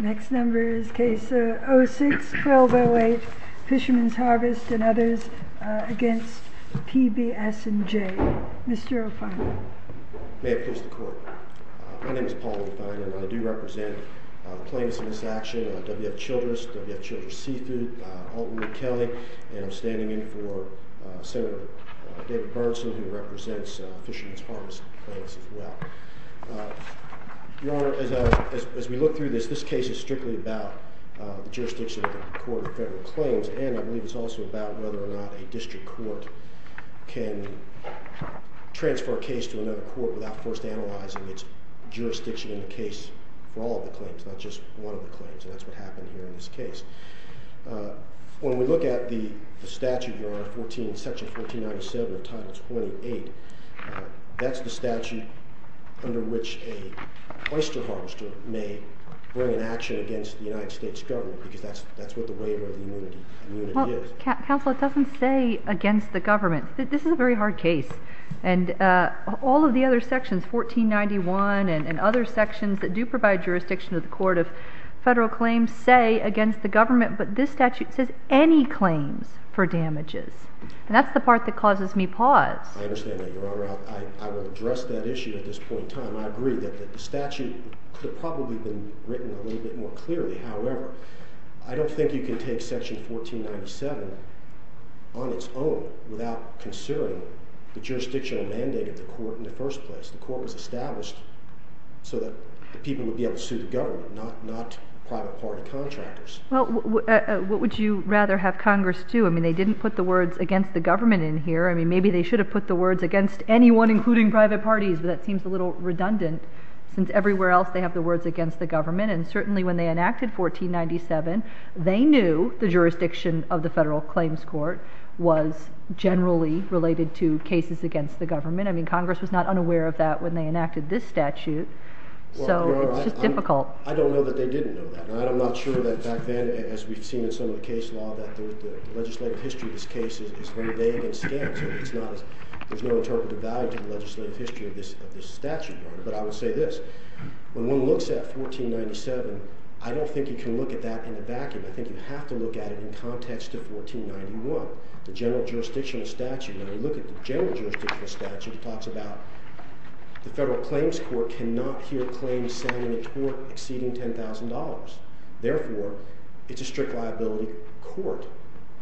Next number is case 06-1208, Fisherman's Harvest v. PBS & J Mr. O'Fein May it please the court My name is Paul O'Fein and I do represent the plaintiffs in this action W.F. Childress, W.F. Childress Seafood, Altwood & Kelly And I'm standing in for Senator David Bernson who represents Fisherman's Harvest Plaintiffs as well Your Honor, as we look through this, this case is strictly about the jurisdiction of the court of federal claims And I believe it's also about whether or not a district court can transfer a case to another court Without first analyzing its jurisdiction in the case for all of the claims, not just one of the claims And that's what happened here in this case When we look at the statute, Your Honor, Section 1497 of Title 28 That's the statute under which a oyster harvester may bring an action against the United States government Because that's what the waiver of immunity is Counselor, it doesn't say against the government This is a very hard case And all of the other sections, 1491 and other sections that do provide jurisdiction to the court of federal claims Say against the government But this statute says any claims for damages And that's the part that causes me pause I understand that, Your Honor I will address that issue at this point in time I agree that the statute could have probably been written a little bit more clearly However, I don't think you can take Section 1497 on its own Without considering the jurisdictional mandate of the court in the first place The court was established so that the people would be able to sue the government Not private party contractors Well, what would you rather have Congress do? I mean, they didn't put the words against the government in here Maybe they should have put the words against anyone, including private parties But that seems a little redundant Since everywhere else they have the words against the government And certainly when they enacted 1497 They knew the jurisdiction of the federal claims court Was generally related to cases against the government I mean, Congress was not unaware of that when they enacted this statute So it's just difficult I don't know that they didn't know that And I'm not sure that back then, as we've seen in some of the case law The legislative history of this case is very vague and scarce There's no interpretive value to the legislative history of this statute But I would say this When one looks at 1497, I don't think you can look at that in a vacuum I think you have to look at it in context to 1491 The general jurisdictional statute When we look at the general jurisdictional statute It talks about the federal claims court cannot hear claims sounding a tort exceeding $10,000 Therefore, it's a strict liability court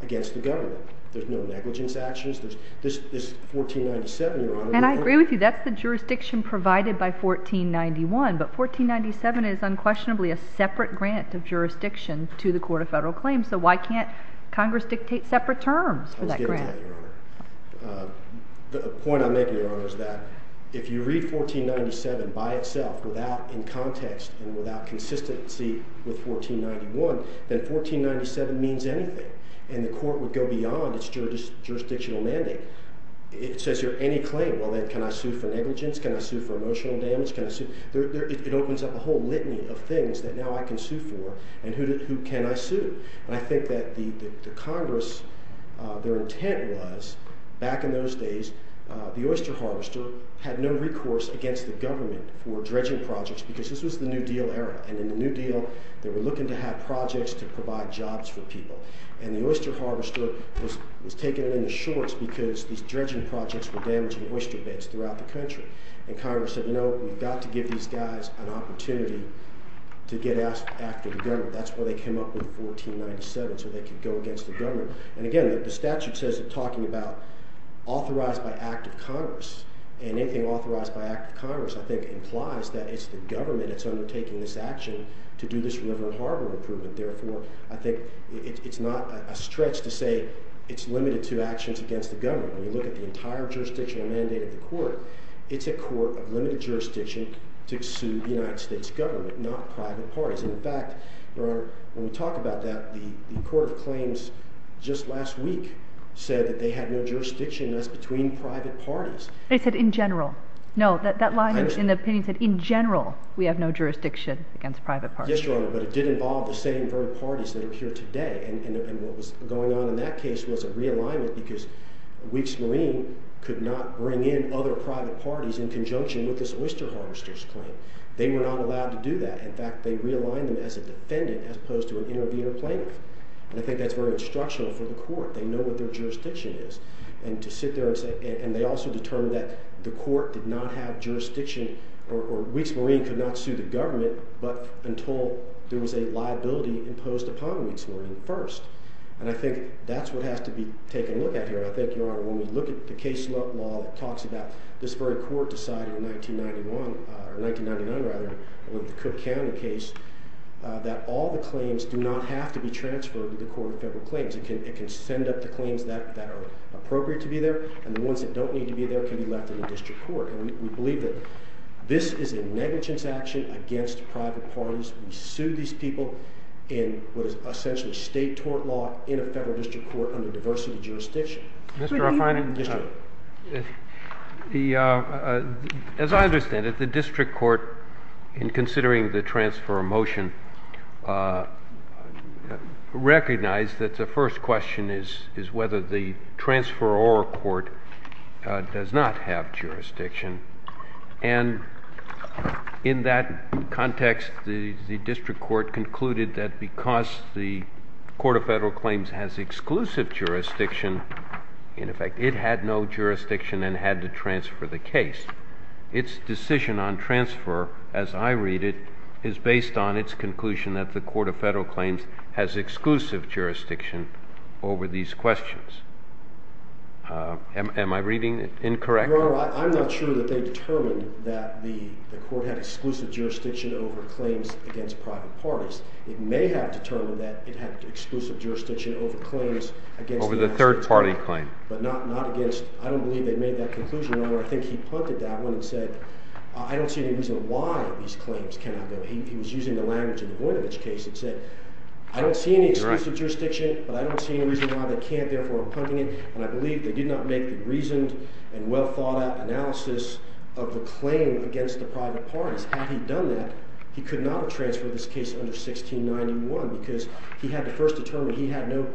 against the government There's no negligence actions There's this 1497, Your Honor And I agree with you That's the jurisdiction provided by 1491 But 1497 is unquestionably a separate grant of jurisdiction to the court of federal claims So why can't Congress dictate separate terms for that grant? The point I make, Your Honor, is that if you read 1497 by itself In context and without consistency with 1491 Then 1497 means anything And the court would go beyond its jurisdictional mandate It says here, any claim Well, then can I sue for negligence? Can I sue for emotional damage? Can I sue? It opens up a whole litany of things that now I can sue for And who can I sue? And I think that the Congress, their intent was Back in those days, the oyster harvester had no recourse against the government For dredging projects Because this was the New Deal era And in the New Deal, they were looking to have projects to provide jobs for people And the oyster harvester was taking it in the shorts Because these dredging projects were damaging oyster beds throughout the country And Congress said, you know, we've got to give these guys an opportunity To get after the government That's why they came up with 1497 So they could go against the government And again, the statute says they're talking about authorized by act of Congress And anything authorized by act of Congress I think implies That it's the government that's undertaking this action To do this river and harbor improvement Therefore, I think it's not a stretch to say It's limited to actions against the government When you look at the entire jurisdictional mandate of the court It's a court of limited jurisdiction To sue the United States government, not private parties And in fact, Your Honor, when we talk about that The court of claims just last week said That they had no jurisdiction, that's between private parties They said in general No, that line in the opinion said in general We have no jurisdiction against private parties Yes, Your Honor, but it did involve the same parties that are here today And what was going on in that case was a realignment Because Weeks Marine could not bring in other private parties In conjunction with this oyster harvester's claim They were not allowed to do that In fact, they realigned them as a defendant As opposed to an intervener plaintiff And I think that's very instructional for the court They know what their jurisdiction is And to sit there and say And they also determined that the court did not have jurisdiction Or Weeks Marine could not sue the government But until there was a liability imposed upon Weeks Marine first And I think that's what has to be taken look at here I think, Your Honor, when we look at the case law That talks about this very court decided in 1991 Or 1999, rather, with the Cook County case That all the claims do not have to be transferred To the court of federal claims It can send up the claims that are appropriate to be there And the ones that don't need to be there Can be left in the district court And we believe that this is a negligence action Against private parties We sue these people in what is essentially state tort law In a federal district court under diversity jurisdiction Mr. Refining As I understand it, the district court In considering the transfer of motion Recognized that the first question is Whether the transferor court does not have jurisdiction And in that context, the district court concluded That because the court of federal claims Has exclusive jurisdiction In effect, it had no jurisdiction And had to transfer the case Its decision on transfer, as I read it Is based on its conclusion That the court of federal claims Has exclusive jurisdiction over these questions Am I reading it incorrectly? Your honor, I'm not sure that they determined That the court had exclusive jurisdiction Over claims against private parties It may have determined that It had exclusive jurisdiction over claims against Over the third party claim But not against I don't believe they made that conclusion However, I think he pointed that one And said I don't see any reason Why these claims cannot go He was using the language in the Boinovich case And said I don't see any exclusive jurisdiction But I don't see any reason why they can't Therefore, I'm punting it And I believe they did not make the reasoned And well thought out analysis Of the claim against the private parties Had he done that, he could not have transferred This case under 1691 Because he had to first determine He had no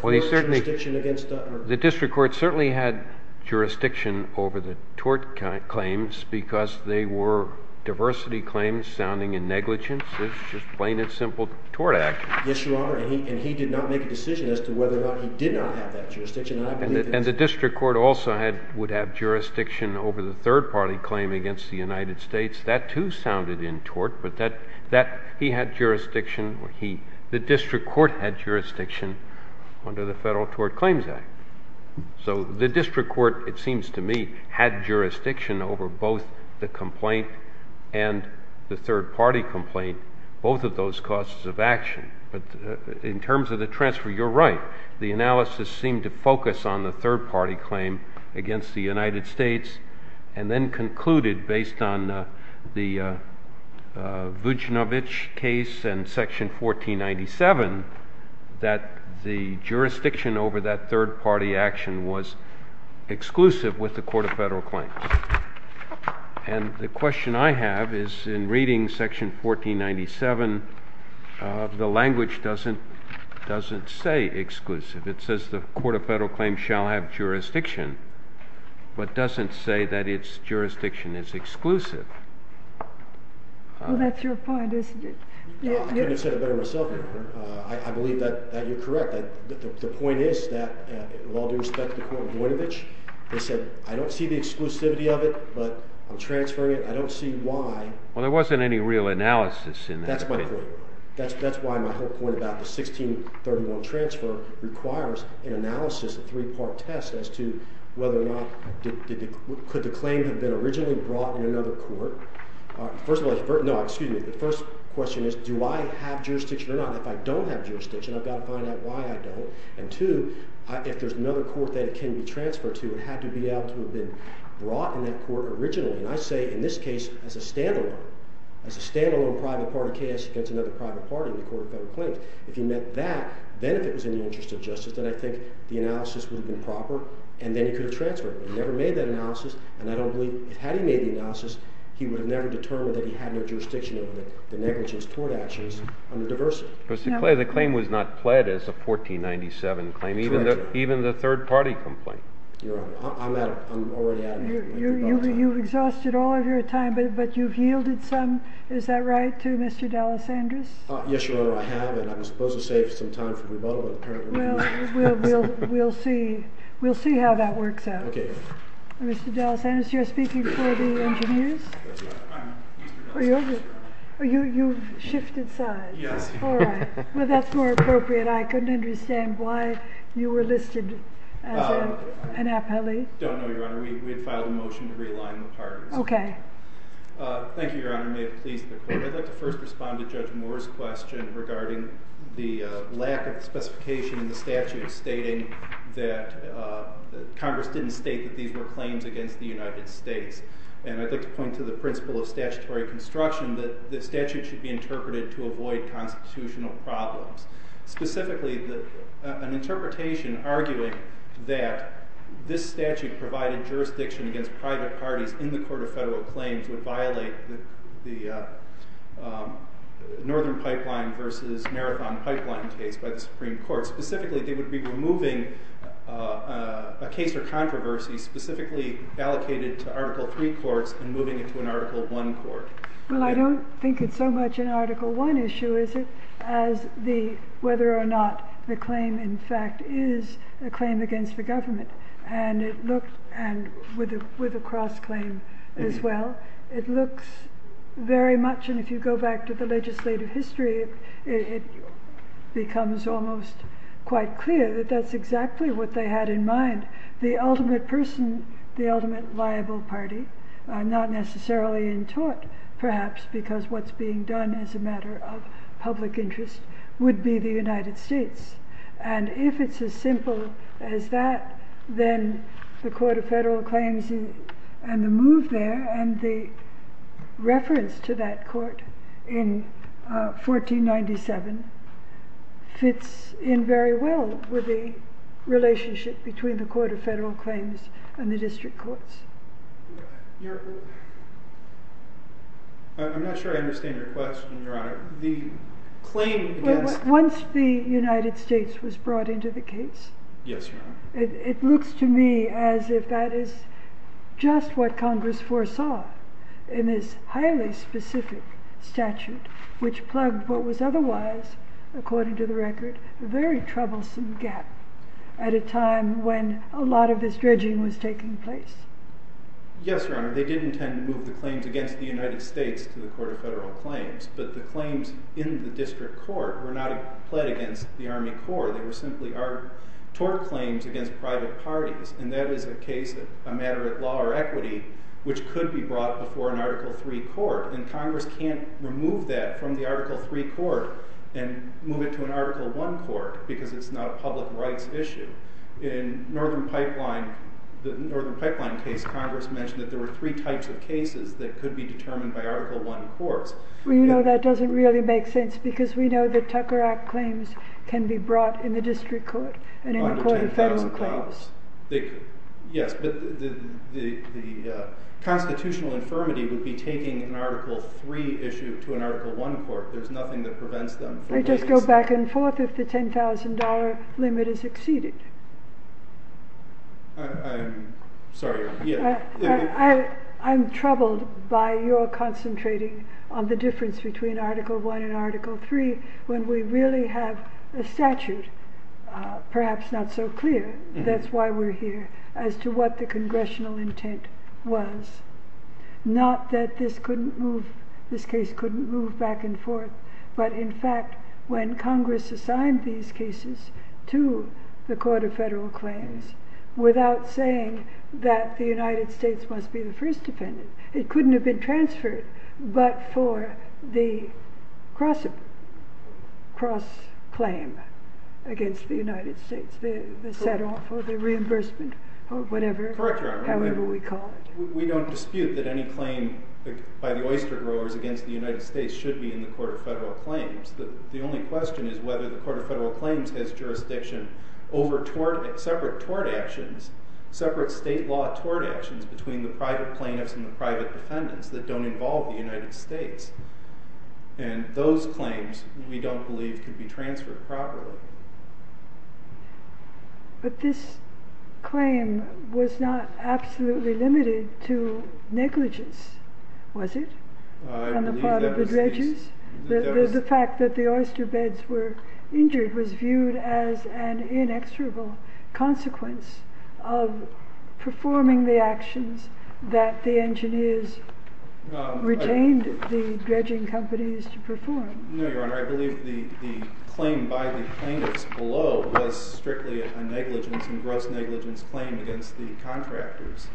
jurisdiction against the The district court certainly had jurisdiction Over the tort claims Because they were diversity claims Sounding in negligence It's just plain and simple tort action Yes, your honor, and he did not make a decision As to whether or not he did not have that jurisdiction And the district court also had Would have jurisdiction over the third party Claim against the United States That too sounded in tort But that he had jurisdiction Or he, the district court had jurisdiction Under the federal tort claims act So the district court, it seems to me Had jurisdiction over both the complaint And the third party complaint Both of those causes of action But in terms of the transfer, you're right The analysis seemed to focus On the third party claim Against the United States And then concluded based on the Vujinovic case and section 1497 That the jurisdiction over that third party action Was exclusive with the court of federal claims And the question I have is In reading section 1497 The language doesn't say exclusive It says the court of federal claims Shall have jurisdiction But doesn't say that its jurisdiction is exclusive Well, that's your point, isn't it? I could have said it better myself, your honor I believe that you're correct The point is that With all due respect to the court of Vujinovic They said I don't see the exclusivity of it But I'm transferring it, I don't see why Well, there wasn't any real analysis in that That's my point That's why my whole point about the 1631 transfer Requires an analysis, a three-part test As to whether or not Could the claim have been originally brought In another court First of all, no, excuse me The first question is do I have jurisdiction or not If I don't have jurisdiction I've got to find out why I don't And two, if there's another court that it can be transferred to It had to be able to have been brought in that court originally And I say in this case as a standalone As a standalone private party case Against another private party in the court of federal claims If he meant that Then if it was in the interest of justice Then I think the analysis would have been proper And then he could have transferred But he never made that analysis And I don't believe, had he made the analysis He would have never determined that he had no jurisdiction Over the negligence toward actions under diversity The claim was not pled as a 1497 claim Even the third party complaint You've exhausted all of your time But you've yielded some Is that right, to Mr. D'Alessandris? Yes, Your Honor, I have And I was supposed to save some time for rebuttal We'll see how that works out Okay Mr. D'Alessandris, you're speaking for the engineers? You've shifted sides Yes Well, that's more appropriate I couldn't understand why you were listed as an appellee Don't know, Your Honor We had filed a motion to realign the parties Okay Thank you, Your Honor May it please the court I'd like to first respond to Judge Moore's question Regarding the lack of specification in the statute Stating that Congress didn't state that These were claims against the United States And I'd like to point to the principle of statutory construction That the statute should be interpreted To avoid constitutional problems Specifically, an interpretation arguing that This statute provided jurisdiction against private parties In the Court of Federal Claims Would violate the Northern Pipeline versus Marathon Pipeline case By the Supreme Court Specifically, they would be removing a case or controversy Specifically allocated to Article III courts And moving it to an Article I court Well, I don't think it's so much an Article I issue, is it? As whether or not the claim, in fact, is a claim against the government And with a cross-claim as well It looks very much And if you go back to the legislative history It becomes almost quite clear That that's exactly what they had in mind The ultimate person, the ultimate liable party Not necessarily in tort, perhaps Because what's being done is a matter of public interest Would be the United States And if it's as simple as that Then the Court of Federal Claims and the move there And the reference to that court in 1497 Fits in very well with the relationship Between the Court of Federal Claims and the district courts I'm not sure I understand your question, Your Honor The claim against Once the United States was brought into the case It looks to me as if that is just what Congress foresaw In this highly specific statute Which plugged what was otherwise, according to the record A very troublesome gap At a time when a lot of this dredging was taking place Yes, Your Honor They did intend to move the claims against the United States To the Court of Federal Claims But the claims in the district court Were not pled against the Army Corps They were simply tort claims against private parties And that is a case of a matter of law or equity Which could be brought before an Article III court And Congress can't remove that from the Article III court And move it to an Article I court Because it's not a public rights issue In the Northern Pipeline case Congress mentioned that there were three types of cases That could be determined by Article I courts We know that doesn't really make sense Because we know that Tucker Act claims Can be brought in the district court And in the Court of Federal Claims Yes, but the constitutional infirmity Would be taking an Article III issue to an Article I court There's nothing that prevents them They just go back and forth if the $10,000 limit is exceeded I'm sorry, yeah I'm troubled by your concentrating On the difference between Article I and Article III When we really have a statute Perhaps not so clear That's why we're here As to what the congressional intent was Not that this couldn't move This case couldn't move back and forth But in fact, when Congress assigned these cases To the Court of Federal Claims Without saying that the United States Must be the first defendant It couldn't have been transferred But for the cross-claim against the United States The set-off or the reimbursement Or whatever, however we call it We don't dispute that any claim by the oyster growers Against the United States Should be in the Court of Federal Claims The only question is whether the Court of Federal Claims Has jurisdiction over separate tort actions Separate state law tort actions Between the private plaintiffs and the private defendants That don't involve the United States And those claims, we don't believe Could be transferred properly But this claim was not absolutely limited To negligence, was it? On the part of the dredgers? The fact that the oyster beds were injured Was viewed as an inexorable consequence Of performing the actions that the engineers Retained the dredging companies to perform No, Your Honor, I believe the claim by the plaintiffs below Was strictly a negligence and gross negligence claim Against the contractors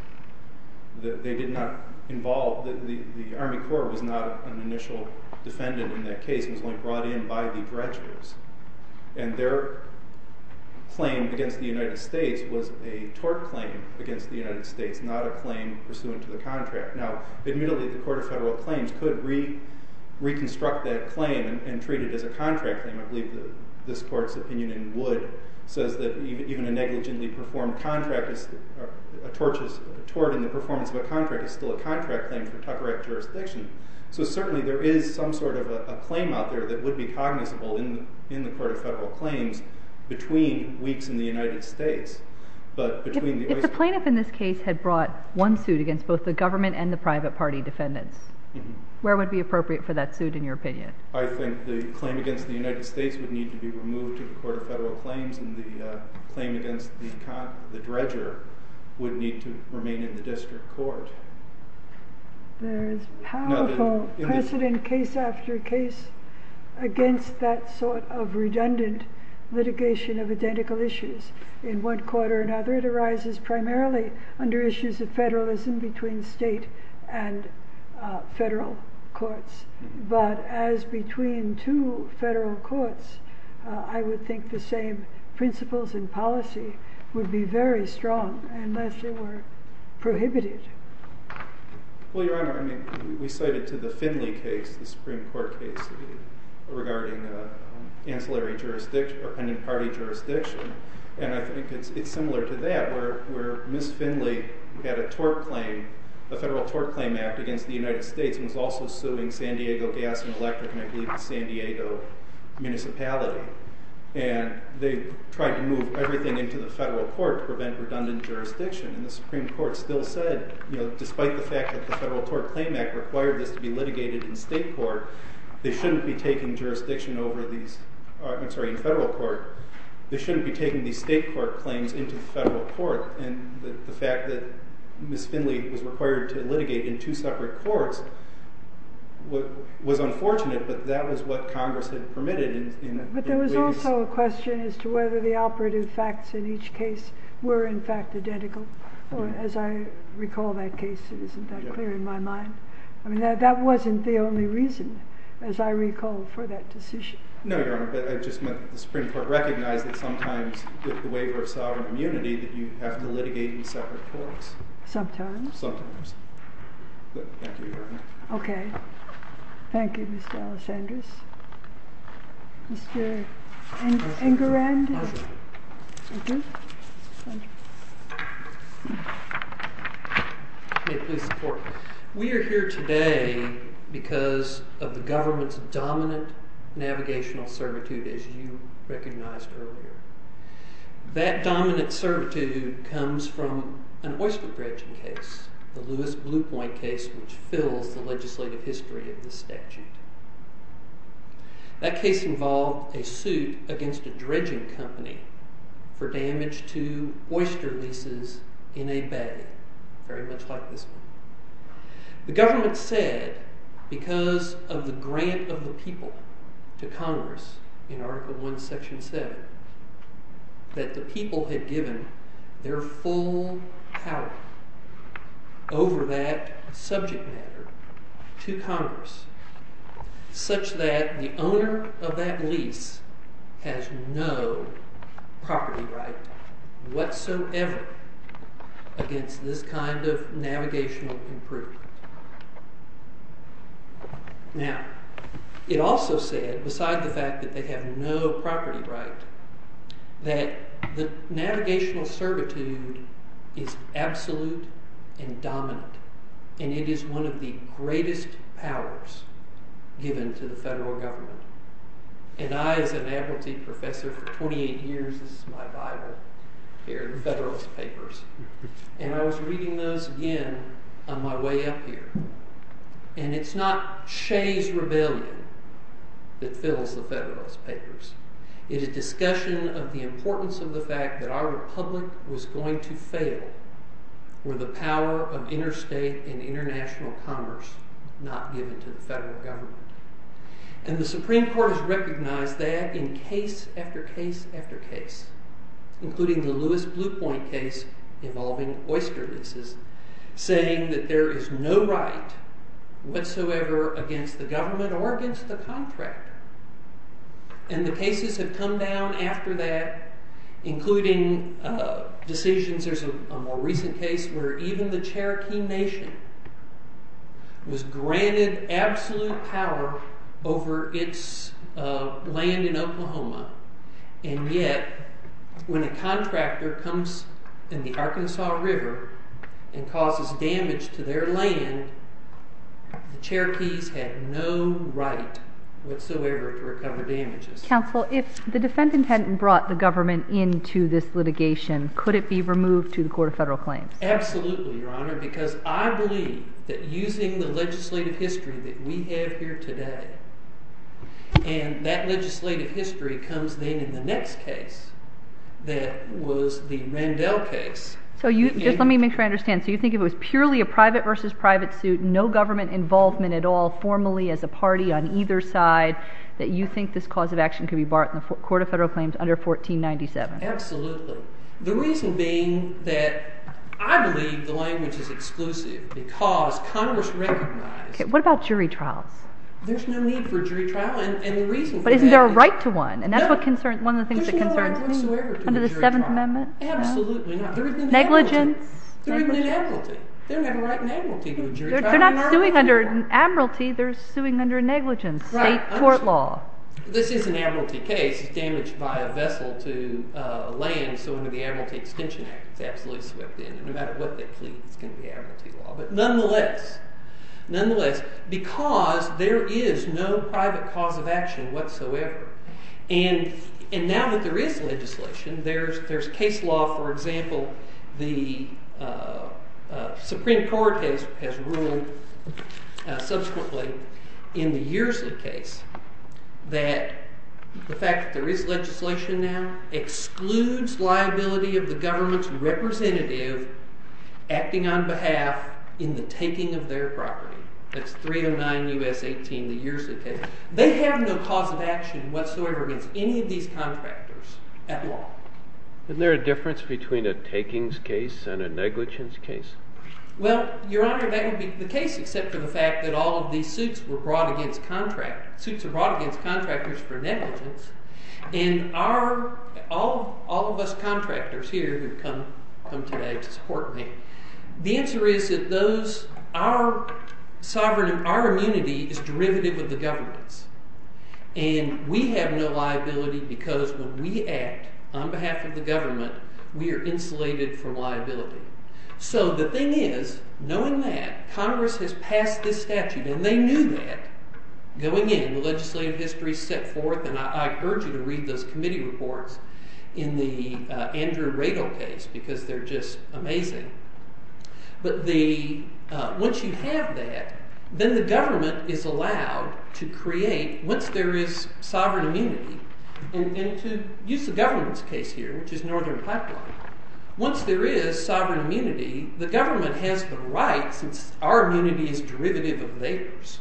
That they did not involve That the Army Corps was not an initial defendant In that case, it was only brought in by the dredgers And their claim against the United States Was a tort claim against the United States Not a claim pursuant to the contract Now, admittedly, the Court of Federal Claims Could reconstruct that claim And treat it as a contract claim I believe this Court's opinion in Wood Says that even a negligently performed contract Is a tort in the performance of a contract Is still a contract claim for Tucker Act jurisdiction So certainly there is some sort of a claim out there That would be cognizable in the Court of Federal Claims Between weeks in the United States But between the oyster... If the plaintiff in this case had brought one suit Against both the government and the private party defendants Where would be appropriate for that suit in your opinion? I think the claim against the United States Would need to be removed to the Court of Federal Claims And the claim against the dredger Would need to remain in the District Court There is powerful precedent case after case Against that sort of redundant litigation of identical issues In one court or another It arises primarily under issues of federalism Between state and federal courts But as between two federal courts I would think the same principles and policy Would be very strong Unless they were prohibited Well, Your Honor, I mean We cited to the Finley case The Supreme Court case Regarding ancillary jurisdiction Or pending party jurisdiction And I think it's similar to that Where Ms. Finley had a tort claim A federal tort claim act against the United States And was also suing San Diego Gas and Electric And I believe the San Diego municipality And they tried to move everything into the federal court To prevent redundant jurisdiction And the Supreme Court still said, you know Despite the fact that the federal tort claim act Required this to be litigated in state court They shouldn't be taking jurisdiction over these I'm sorry, in federal court They shouldn't be taking these state court claims Into the federal court And the fact that Ms. Finley was required to litigate In two separate courts Was unfortunate But that was what Congress had permitted In a way that's... But there was also a question As to whether the operative facts in each case Were in fact identical Or as I recall that case It isn't that clear in my mind That wasn't the only reason As I recall for that decision No, Your Honor, but I just meant The Supreme Court recognized that sometimes With the waiver of sovereign immunity That you have to litigate in separate courts Sometimes Sometimes Thank you, Your Honor Okay, thank you, Mr. Alessandris Mr. Engerand Thank you May it please the Court We are here today Because of the government's dominant Navigational servitude As you recognized earlier That dominant servitude Comes from an oyster dredging case The Lewis Bluepoint case Which fills the legislative history of the statute That case involved a suit Against a dredging company For damage to oyster leases in a bay Very much like this one The government said Because of the grant of the people To Congress in Article I, Section 7 That the people had given their full power Over that subject matter to Congress Such that the owner of that lease Has no property right whatsoever Against this kind of navigational improvement Now, it also said Beside the fact that they have no property right That the navigational servitude Is absolute and dominant And it is one of the greatest powers Given to the federal government And I, as an advocacy professor for 28 years This is my Bible Here, the Federalist Papers And I was reading those again on my way up here And it's not Shea's Rebellion That fills the Federalist Papers It is discussion of the importance of the fact That our republic was going to fail Were the power of interstate and international commerce Not given to the federal government And the Supreme Court has recognized that In case after case after case Including the Lewis Blue Point case Involving oyster leases Saying that there is no right whatsoever Against the government or against the contractor And the cases have come down after that Including decisions There's a more recent case Where even the Cherokee Nation Was granted absolute power Over its land in Oklahoma And yet when a contractor comes in the Arkansas River And causes damage to their land The Cherokees had no right whatsoever To recover damages Counsel, if the defendant hadn't brought the government Into this litigation Could it be removed to the Court of Federal Claims? Absolutely, Your Honor Because I believe that using the legislative history That we have here today And that legislative history Comes then in the next case That was the Randell case So just let me make sure I understand So you think it was purely a private versus private suit No government involvement at all Formally as a party on either side That you think this cause of action Could be brought in the Court of Federal Claims Under 1497? Absolutely The reason being that I believe the language is exclusive Because Congress recognized What about jury trials? There's no need for a jury trial And the reason for that But isn't there a right to one? And that's one of the things that concerns me Under the Seventh Amendment Absolutely not Negligence They're even in admiralty They don't have a right in admiralty To a jury trial They're not suing under admiralty They're suing under negligence State court law This is an admiralty case Damaged by a vessel to land So under the Admiralty Extension Act It's absolutely swept in And no matter what they plead It's going to be admiralty law But nonetheless Nonetheless Because there is no private cause of action Whatsoever And now that there is legislation There's case law For example The Supreme Court has ruled Subsequently in the Yersley case That the fact that there is legislation now Excludes liability of the government's representative Acting on behalf in the taking of their property That's 309 U.S. 18, the Yersley case They have no cause of action whatsoever Against any of these contractors at law Isn't there a difference between a takings case And a negligence case? Well, your honor That would be the case Except for the fact that all of these suits Were brought against contract Suits are brought against contractors for negligence And all of us contractors here Come today to support me The answer is that those Our sovereignty Our immunity is derivative of the government's And we have no liability Because when we act on behalf of the government We are insulated from liability So the thing is Knowing that Congress has passed this statute And they knew that Going in The legislative history set forth And I urge you to read those committee reports In the Andrew Rado case Because they're just amazing But the Once you have that Then the government is allowed to create Once there is sovereign immunity And to use the government's case here Which is Northern Pipeline Once there is sovereign immunity The government has the right Since our immunity is derivative of theirs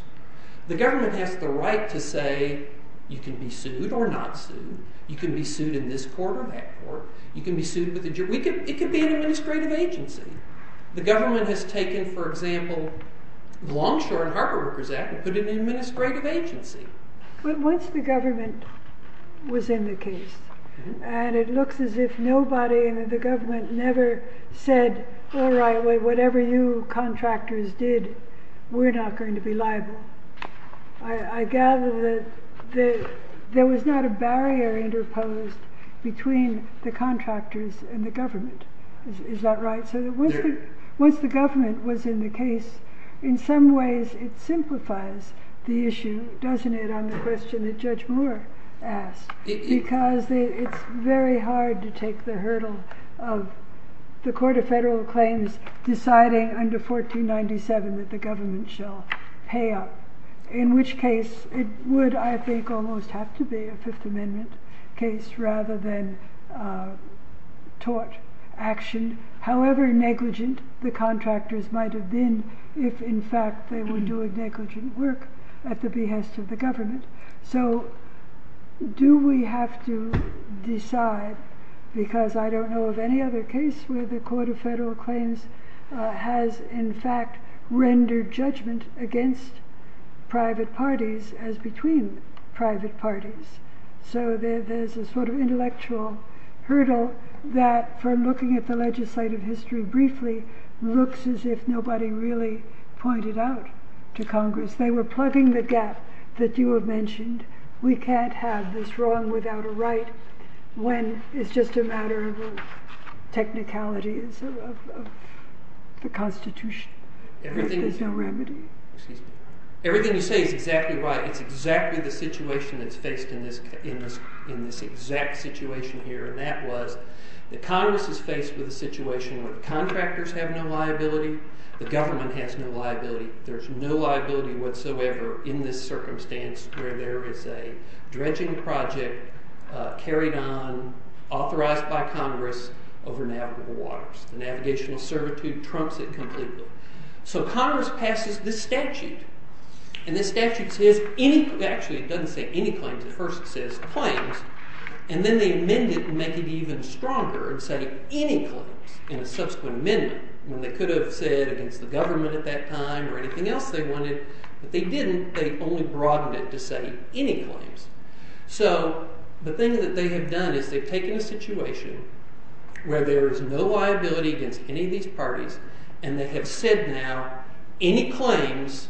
The government has the right to say You can be sued or not sued You can be sued in this court or that court You can be sued with a jury It can be an administrative agency The government has taken, for example Longshore and Harbor Workers Act And put it in an administrative agency But once the government was in the case And it looks as if nobody And the government never said All right, whatever you contractors did We're not going to be liable I gather that There was not a barrier interposed Between the contractors and the government Is that right? So once the government was in the case In some ways it simplifies the issue Doesn't it on the question that Judge Moore asked Because it's very hard to take the hurdle Of the court of federal claims Deciding under 1497 That the government shall pay up In which case it would I think almost have to be a Fifth Amendment case Rather than tort action However negligent the contractors might have been If in fact they were doing negligent work At the behest of the government So do we have to decide Because I don't know of any other case Where the court of federal claims Has in fact rendered judgment Against private parties As between private parties So there's a sort of intellectual hurdle That for looking at the legislative history briefly Looks as if nobody really pointed out to Congress They were plugging the gap that you have mentioned We can't have this wrong without a right When it's just a matter of technicalities The Constitution There's no remedy Everything you say is exactly right It's exactly the situation that's faced In this exact situation here And that was the Congress is faced with a situation Where the contractors have no liability The government has no liability There's no liability whatsoever in this circumstance Where there is a dredging project carried on Authorized by Congress over navigable waters The navigational servitude trumps it completely So Congress passes this statute And this statute says any Actually it doesn't say any claims At first it says claims And then they amend it and make it even stronger And say any claims in a subsequent amendment When they could have said against the government at that time Or anything else they wanted But they didn't They only broadened it to say any claims So the thing that they have done Is they've taken a situation Where there is no liability against any of these parties And they have said now any claims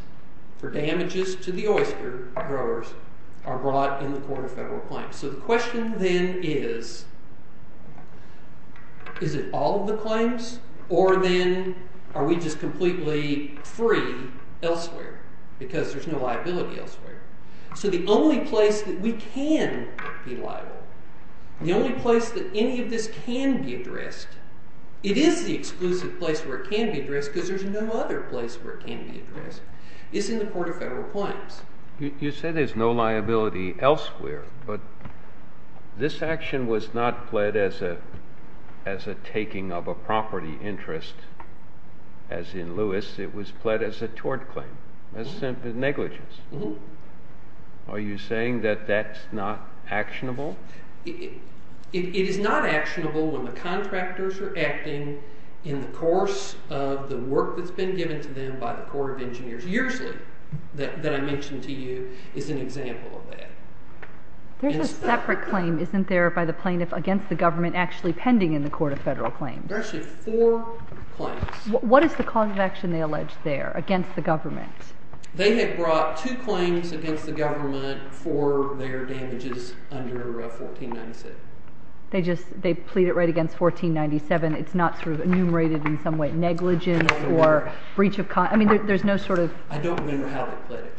For damages to the oyster growers Are brought in the Court of Federal Claims So the question then is Is it all of the claims Or then are we just completely free elsewhere Because there's no liability elsewhere So the only place that we can be liable The only place that any of this can be addressed It is the exclusive place where it can be addressed Because there's no other place where it can be addressed Is in the Court of Federal Claims You said there's no liability elsewhere But this action was not pled as a Taking of a property interest As in Lewis It was pled as a tort claim As negligence Are you saying that that's not actionable? It is not actionable when the contractors are acting In the course of the work that's been given to them By the Court of Engineers Yearsly That I mentioned to you is an example of that There's a separate claim isn't there By the plaintiff against the government Actually pending in the Court of Federal Claims There's actually four claims What is the cause of action they allege there Against the government? They have brought two claims against the government For their damages under 1497 They just they plead it right against 1497 It's not sort of enumerated in some way Negligence or breach of I mean there's no sort of I don't remember how they pled it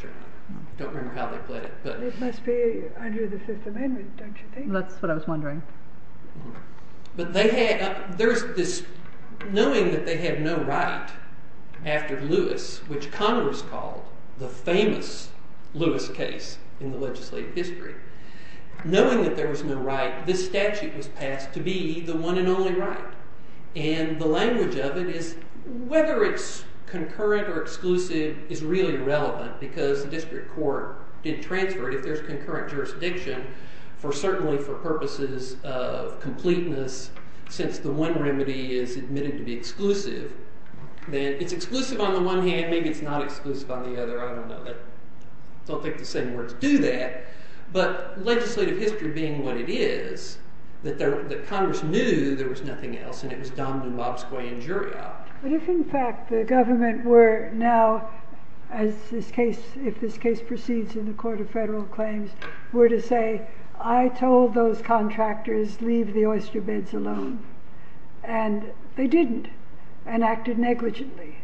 Don't remember how they pled it But it must be under the Fifth Amendment don't you think? That's what I was wondering But they had There's this knowing that they have no right After Lewis Which Congress called the famous Lewis case In the legislative history Knowing that there was no right This statute was passed to be the one and only right And the language of it is Whether it's concurrent or exclusive Is really irrelevant Because the district court didn't transfer it If there's concurrent jurisdiction Certainly for purposes of completeness Since the one remedy is admitted to be exclusive Then it's exclusive on the one hand Maybe it's not exclusive on the other I don't know I don't think the same words do that But legislative history being what it is That there That Congress knew there was nothing else And it was Domino, Bobscoy, and Juria But if in fact the government were now As this case If this case proceeds in the Court of Federal Claims Were to say I told those contractors Leave the oyster beds alone And they didn't And acted negligently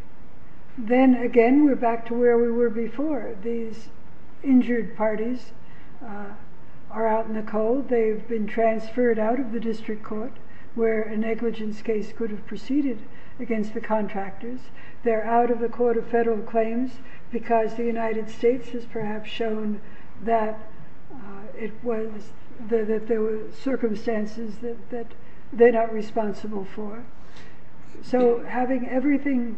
Then again we're back to where we were before These injured parties Are out in the cold They've been transferred out of the district court Where a negligence case could have proceeded Against the contractors They're out of the Court of Federal Claims Because the United States has perhaps shown That it was That there were circumstances That they're not responsible for So having everything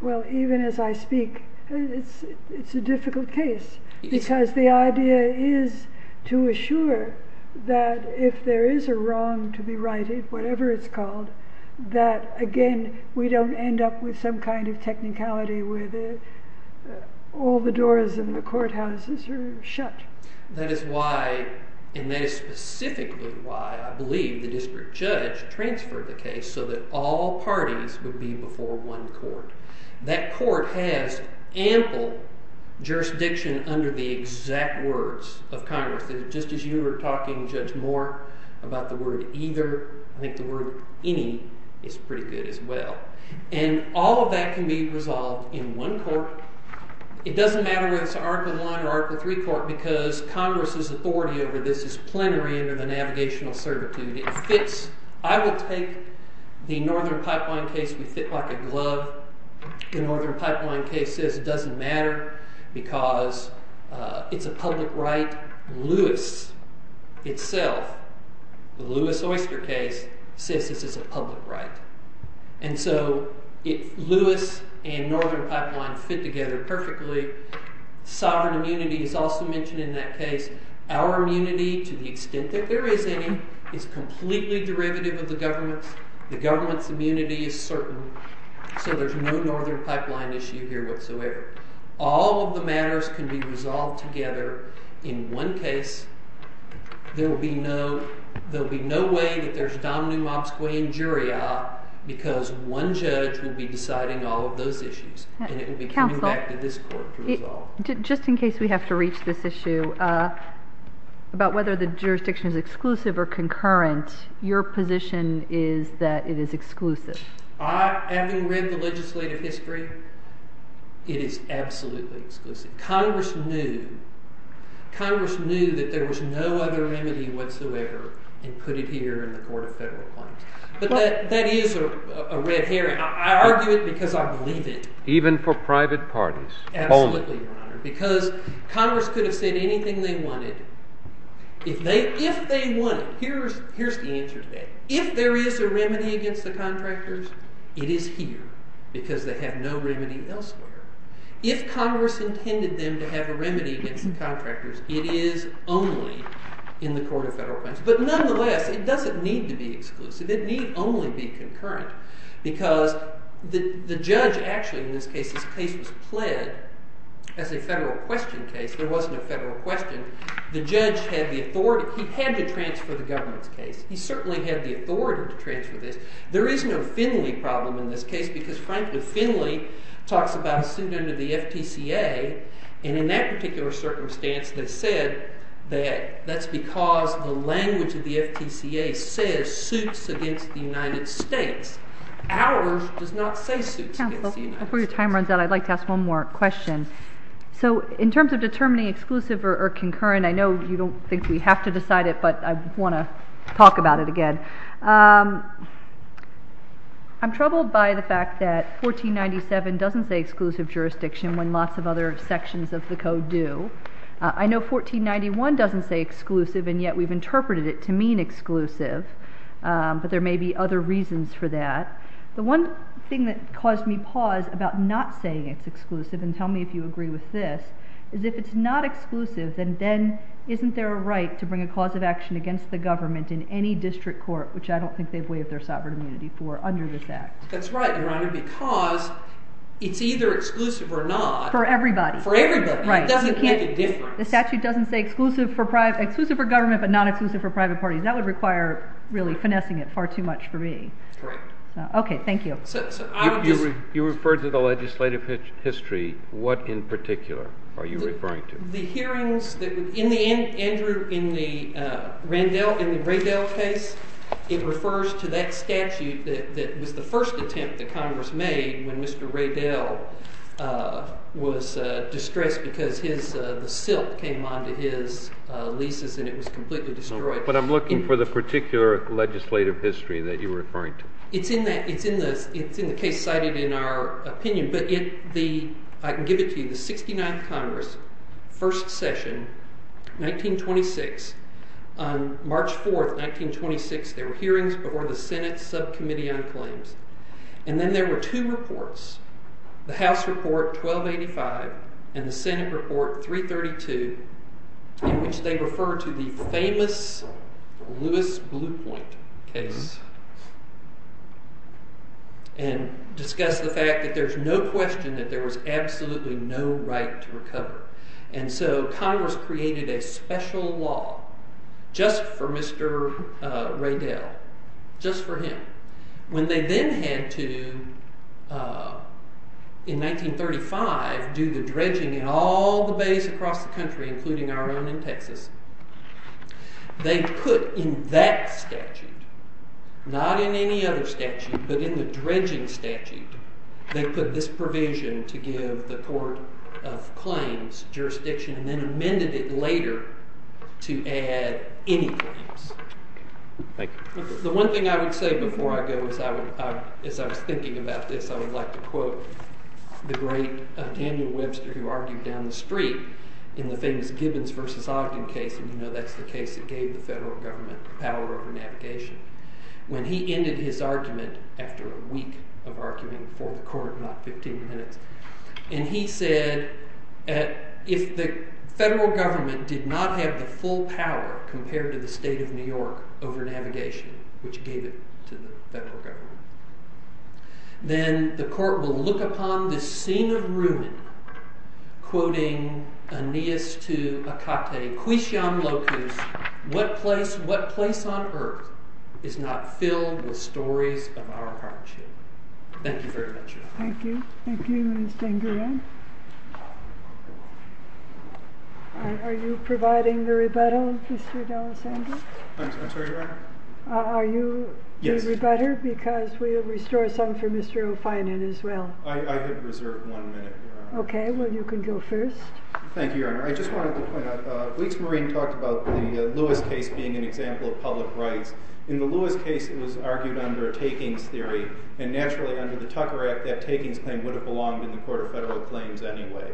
Well even as I speak It's a difficult case Because the idea is To assure that If there is a wrong to be righted Whatever it's called That again We don't end up with some kind of technicality Where all the doors in the courthouses are shut That is why And that is specifically why I believe the district judge transferred the case So that all parties would be before one court That court has ample Jurisdiction under the exact words of Congress Just as you were talking Judge Moore About the word either I think the word any is pretty good as well And all of that can be resolved in one court It doesn't matter whether it's an article one Or article three court Because Congress's authority over this Is plenary under the navigational certitude It fits I will take the Northern Pipeline case We fit like a glove The Northern Pipeline case says it doesn't matter Because it's a public right Lewis itself The Lewis Oyster case Says this is a public right And so if Lewis and Northern Pipeline Fit together perfectly Sovereign immunity is also mentioned in that case Our immunity to the extent that there is any Is completely derivative of the government's The government's immunity is certain So there's no Northern Pipeline issue here whatsoever All of the matters can be resolved together In one case There will be no There'll be no way that there's Domino, Mobsquay and Juria Because one judge will be deciding all of those issues And it will be coming back to this court to resolve Just in case we have to reach this issue About whether the jurisdiction is exclusive or concurrent Your position is that it is exclusive I, having read the legislative history It is absolutely exclusive Congress knew Congress knew that there was no other remedy whatsoever And put it here in the Court of Federal Claims But that is a red herring I argue it because I believe it Even for private parties Absolutely, Your Honor Because Congress could have said anything they wanted If they, if they wanted Here's, here's the answer to that If there is a remedy against the contractors It is here Because they have no remedy elsewhere If Congress intended them to have a remedy against the contractors It is only in the Court of Federal Claims But nonetheless, it doesn't need to be exclusive It need only be concurrent Because the judge actually in this case This case was pled as a federal question case There wasn't a federal question The judge had the authority He had to transfer the government's case He certainly had the authority to transfer this There is no Finley problem in this case Because frankly, Finley talks about a suit under the FTCA And in that particular circumstance They said that that's because the language of the FTCA Says suits against the United States Ours does not say suits against the United States Before your time runs out, I'd like to ask one more question So in terms of determining exclusive or concurrent I know you don't think we have to decide it But I want to talk about it again I'm troubled by the fact that 1497 doesn't say exclusive jurisdiction When lots of other sections of the code do I know 1491 doesn't say exclusive And yet we've interpreted it to mean exclusive But there may be other reasons for that The one thing that caused me pause about not saying it's exclusive And tell me if you agree with this Is if it's not exclusive, then isn't there a right To bring a cause of action against the government In any district court Which I don't think they've waived their sovereign immunity for under this act That's right, your honor Because it's either exclusive or not For everybody For everybody It doesn't make a difference The statute doesn't say exclusive for government But not exclusive for private parties That would require really finessing it far too much for me Okay, thank you You referred to the legislative history What in particular are you referring to? The hearings, Andrew, in the Raydell case It refers to that statute that was the first attempt that Congress made When Mr. Raydell was distressed Because the silt came onto his leases And it was completely destroyed But I'm looking for the particular legislative history that you're referring to It's in the case cited in our opinion But I can give it to you The 69th Congress, first session, 1926 On March 4th, 1926 There were hearings before the Senate Subcommittee on Claims And then there were two reports The House Report 1285 and the Senate Report 332 In which they refer to the famous Lewis Blue Point case And discuss the fact that there's no question That there was absolutely no right to recover And so Congress created a special law Just for Mr. Raydell Just for him When they then had to, in 1935 Do the dredging in all the bays across the country Including our own in Texas They put in that statute Not in any other statute But in the dredging statute They put this provision to give the Court of Claims jurisdiction And then amended it later to add any claims The one thing I would say before I go As I was thinking about this I would like to quote the great Daniel Webster Who argued down the street In the famous Gibbons v. Ogden case And you know that's the case that gave the federal government Power over navigation When he ended his argument After a week of arguing for the court Not 15 minutes And he said If the federal government did not have the full power Compared to the state of New York over navigation Which gave it to the federal government Then the court will look upon this scene of ruin Quoting Aeneas to Akate Quixiam Locus What place, what place on earth Is not filled with stories of our hardship Thank you very much Thank you Thank you Mr. Nguyen Are you providing the rebuttal Mr. D'Alessandro? I'm sorry Your Honor Are you the rebutter? Because we'll restore some for Mr. O'Finan as well I have reserved one minute Your Honor Okay well you can go first Thank you Your Honor I just wanted to point out Weeks Marine talked about the Lewis case Being an example of public rights In the Lewis case it was argued under a takings theory And naturally under the Tucker Act That takings claim would have belonged In the Court of Federal Claims anyway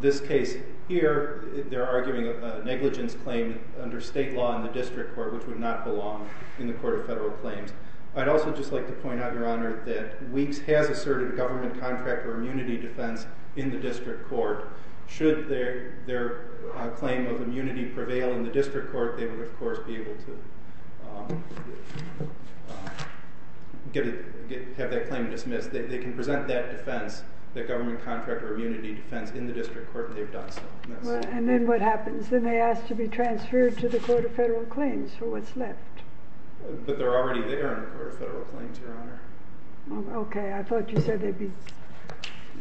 This case here they're arguing a negligence claim Under state law in the district court Which would not belong in the Court of Federal Claims I'd also just like to point out Your Honor That Weeks has asserted government contract Or immunity defense in the district court Should their claim of immunity prevail In the district court They would of course be able to Have that claim dismissed They can present that defense That government contract or immunity defense In the district court And they've done so And then what happens? Then they ask to be transferred To the Court of Federal Claims for what's left But they're already there In the Court of Federal Claims Your Honor Okay I thought you said they'd be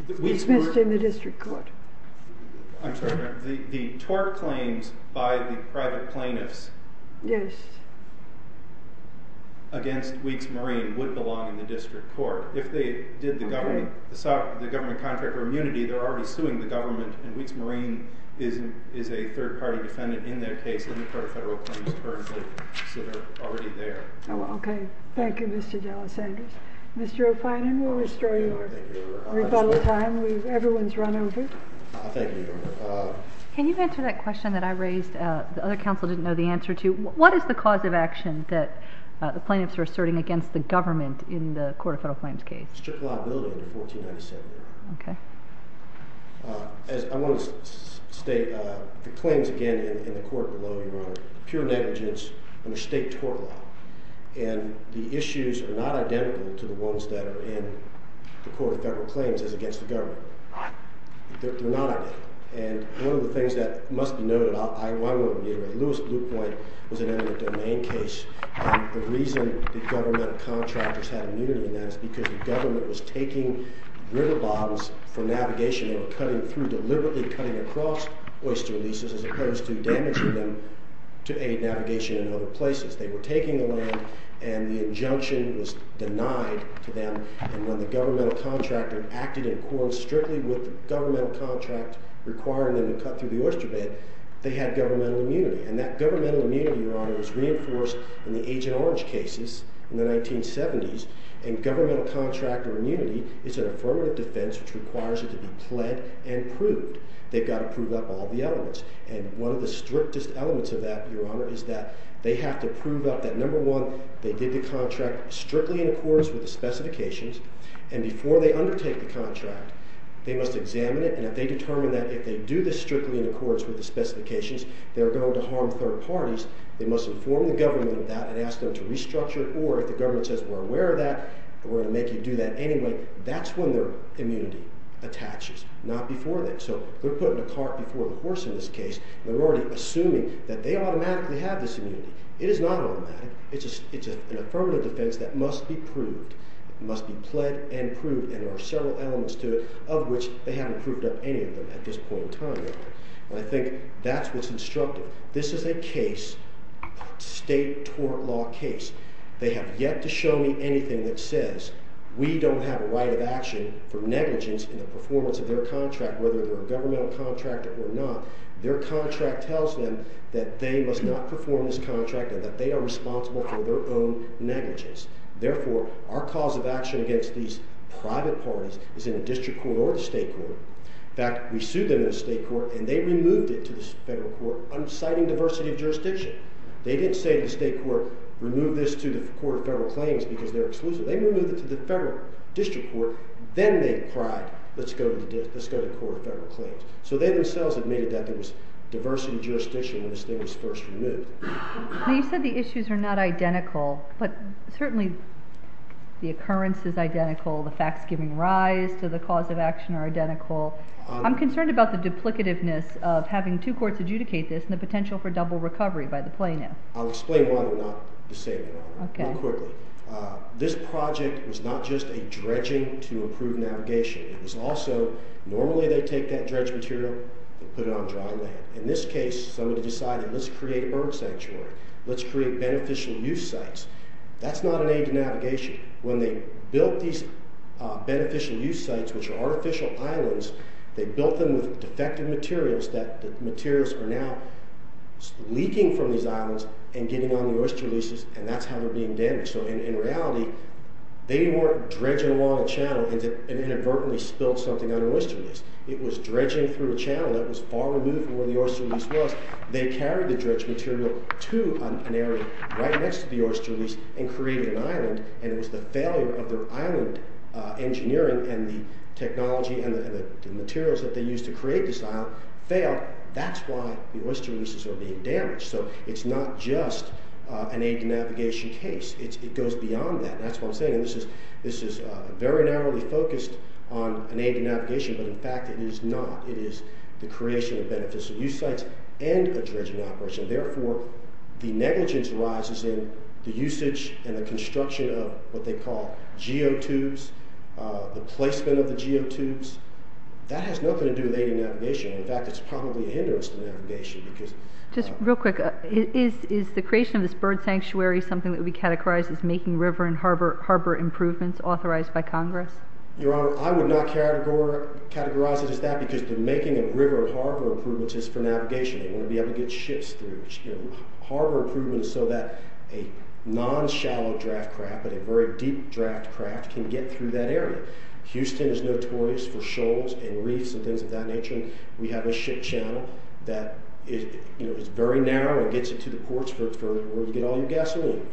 Dismissed in the district court I'm sorry the tort claims By the private plaintiffs Yes Against Weeks Marine Would belong in the district court If they did the government Assault the government contract or immunity They're already suing the government And Weeks Marine is a third-party defendant In their case in the Court of Federal Claims Currently considered already there Oh okay thank you Mr. Dallas-Anders Mr. O'Finan we'll restore your rebuttal time Everyone's run over Thank you Your Honor Can you answer that question that I raised The other counsel didn't know the answer to What is the cause of action that the plaintiffs Are asserting against the government In the Court of Federal Claims case? Strict liability under 1497 As I want to state the claims again In the court below Your Honor Pure negligence under state tort law And the issues are not identical to the ones That are in the Court of Federal Claims As against the government They're not identical And one of the things that must be noted I won't reiterate Lewis Blue Point was an eminent domain case The reason the government contractors Had immunity in that Is because the government was taking riverbonds For navigation They were cutting through Deliberately cutting across oyster leases As opposed to damaging them To aid navigation in other places They were taking the land And the injunction was denied to them And when the governmental contractor Acted in accordance Strictly with the governmental contract Requiring them to cut through the oyster bed They had governmental immunity And that governmental immunity Your Honor Was reinforced in the Agent Orange cases In the 1970s And governmental contractor immunity Is an affirmative defense Which requires it to be pled and proved They've got to prove up all the elements And one of the strictest elements of that Your Honor Is that they have to prove up That number one They did the contract Strictly in accordance with the specifications And before they undertake the contract They must examine it And if they determine that If they do this strictly in accordance With the specifications They're going to harm third parties They must inform the government of that And ask them to restructure Or if the government says We're aware of that And we're going to make you do that anyway That's when their immunity attaches Not before then So they're putting a cart before the horse In this case And they're already assuming That they automatically have this immunity It is not automatic It's an affirmative defense That must be proved Must be pled and proved And there are several elements to it Of which they haven't proved up any of them At this point in time, Your Honor And I think that's what's instructive This is a case State tort law case They have yet to show me anything that says We don't have a right of action For negligence in the performance of their contract Whether they're a governmental contractor or not Their contract tells them That they must not perform this contract And that they are responsible For their own negligence Therefore, our cause of action Against these private parties Is in the district court or the state court In fact, we sued them in the state court And they removed it to the federal court Unciting diversity of jurisdiction They didn't say to the state court Remove this to the court of federal claims Because they're exclusive They removed it to the federal district court Then they cried Let's go to the court of federal claims So they themselves admitted That there was diversity of jurisdiction When this thing was first removed Now you said the issues are not identical But certainly the occurrence is identical The facts giving rise to the cause of action Are identical I'm concerned about the duplicativeness Of having two courts adjudicate this And the potential for double recovery by the plaintiff I'll explain why they're not disabling This project was not just a dredging To improve navigation It was also Normally they take that dredged material And put it on dry land In this case, somebody decided Let's create a bird sanctuary Let's create beneficial use sites That's not an aid to navigation When they built these beneficial use sites Which are artificial islands They built them with defective materials That the materials are now Leaking from these islands And getting on the oyster leases And that's how they're being damaged So in reality They weren't dredging along a channel And inadvertently spilled something on an oyster lease It was dredging through a channel That was far removed from where the oyster lease was They carried the dredged material To an area right next to the oyster lease And created an island And it was the failure of their island engineering And the technology and the materials That they used to create this island Failed That's why the oyster leases are being damaged So it's not just an aid to navigation case It goes beyond that And that's what I'm saying And this is very narrowly focused On an aid to navigation But in fact it is not It is the creation of beneficial use sites And a dredging operation Therefore the negligence arises in The usage and the construction of What they call geotubes The placement of the geotubes That has nothing to do with aid to navigation In fact it's probably a hindrance to navigation Because Just real quick Is the creation of this bird sanctuary Something that would be categorized As making river and harbor improvements Authorized by Congress? Your honor, I would not categorize it as that Because the making of river and harbor improvements Is for navigation They want to be able to get ships through Harbor improvements so that A non-shallow draft craft But a very deep draft craft Can get through that area Houston is notorious for shoals And reefs and things of that nature We have a ship channel That is very narrow And gets it to the ports For where you get all your gasoline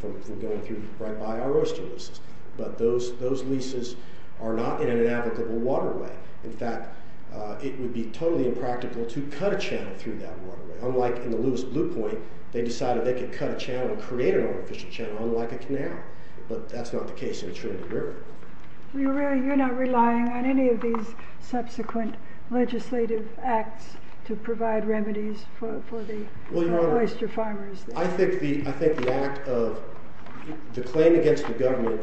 From going through Right by our oyster leases But those leases Are not in an navigable waterway In fact it would be totally impractical To cut a channel through that waterway Unlike in the Lewis Blue Point They decided they could cut a channel And create an artificial channel Unlike a canal But that's not the case in the Trinity River Well you're not relying on any of these Subsequent legislative acts To provide remedies for the oyster farmers I think the act of The claim against the government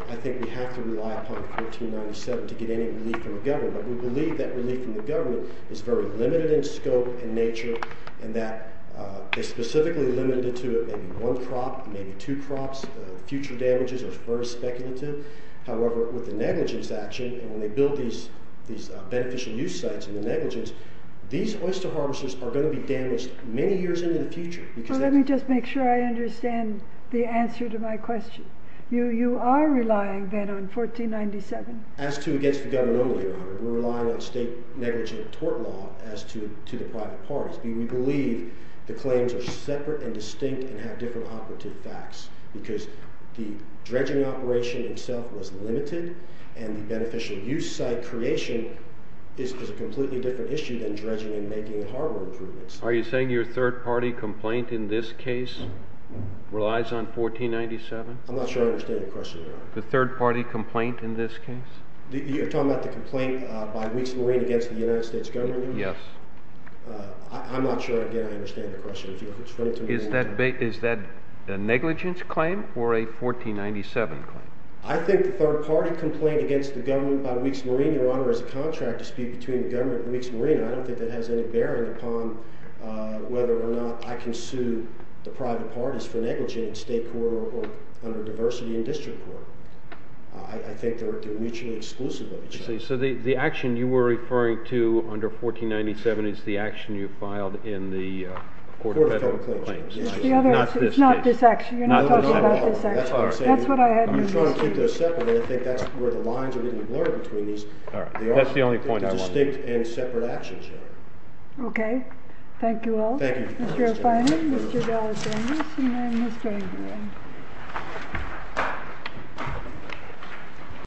To get any relief from the government We believe that relief from the government Is very limited in scope and nature And that they specifically limited it To maybe one crop Maybe two crops Future damages are very speculative However with the negligence action And when they build these Beneficial use sites And the negligence These oyster harvesters Are going to be damaged Many years into the future Let me just make sure I understand The answer to my question You are relying then on 1497 As to against the government only We're relying on state negligent tort law As to the private parties We believe the claims are separate and distinct And have different operative facts Because the dredging operation itself Was limited And the beneficial use site creation Is a completely different issue Than dredging and making harbor improvements Are you saying your third party complaint In this case relies on 1497? I'm not sure I understand your question The third party complaint in this case You're talking about the complaint by Weeks Marine Against the United States government? Yes I'm not sure again I understand the question Is that a negligence claim? Or a 1497 claim? I think the third party complaint Against the government by Weeks Marine Your honor is a contract dispute Between the government and Weeks Marine I don't think that has any bearing upon Whether or not I can sue the private parties For negligent in state court Or under diversity in district court I think they're mutually exclusive of each other So the action you were referring to under 1497 Is the action you filed in the court of federal claims? It's the other action It's not this action You're not talking about this action That's what I had in mind You're trying to keep those separate And I think that's where the lines Are getting blurred between these That's the only point I wanted to make They're distinct and separate actions Okay thank you all Thank you Mr. O'Feinan, Mr. Galazanis, and then Mr. Aguilar Thank you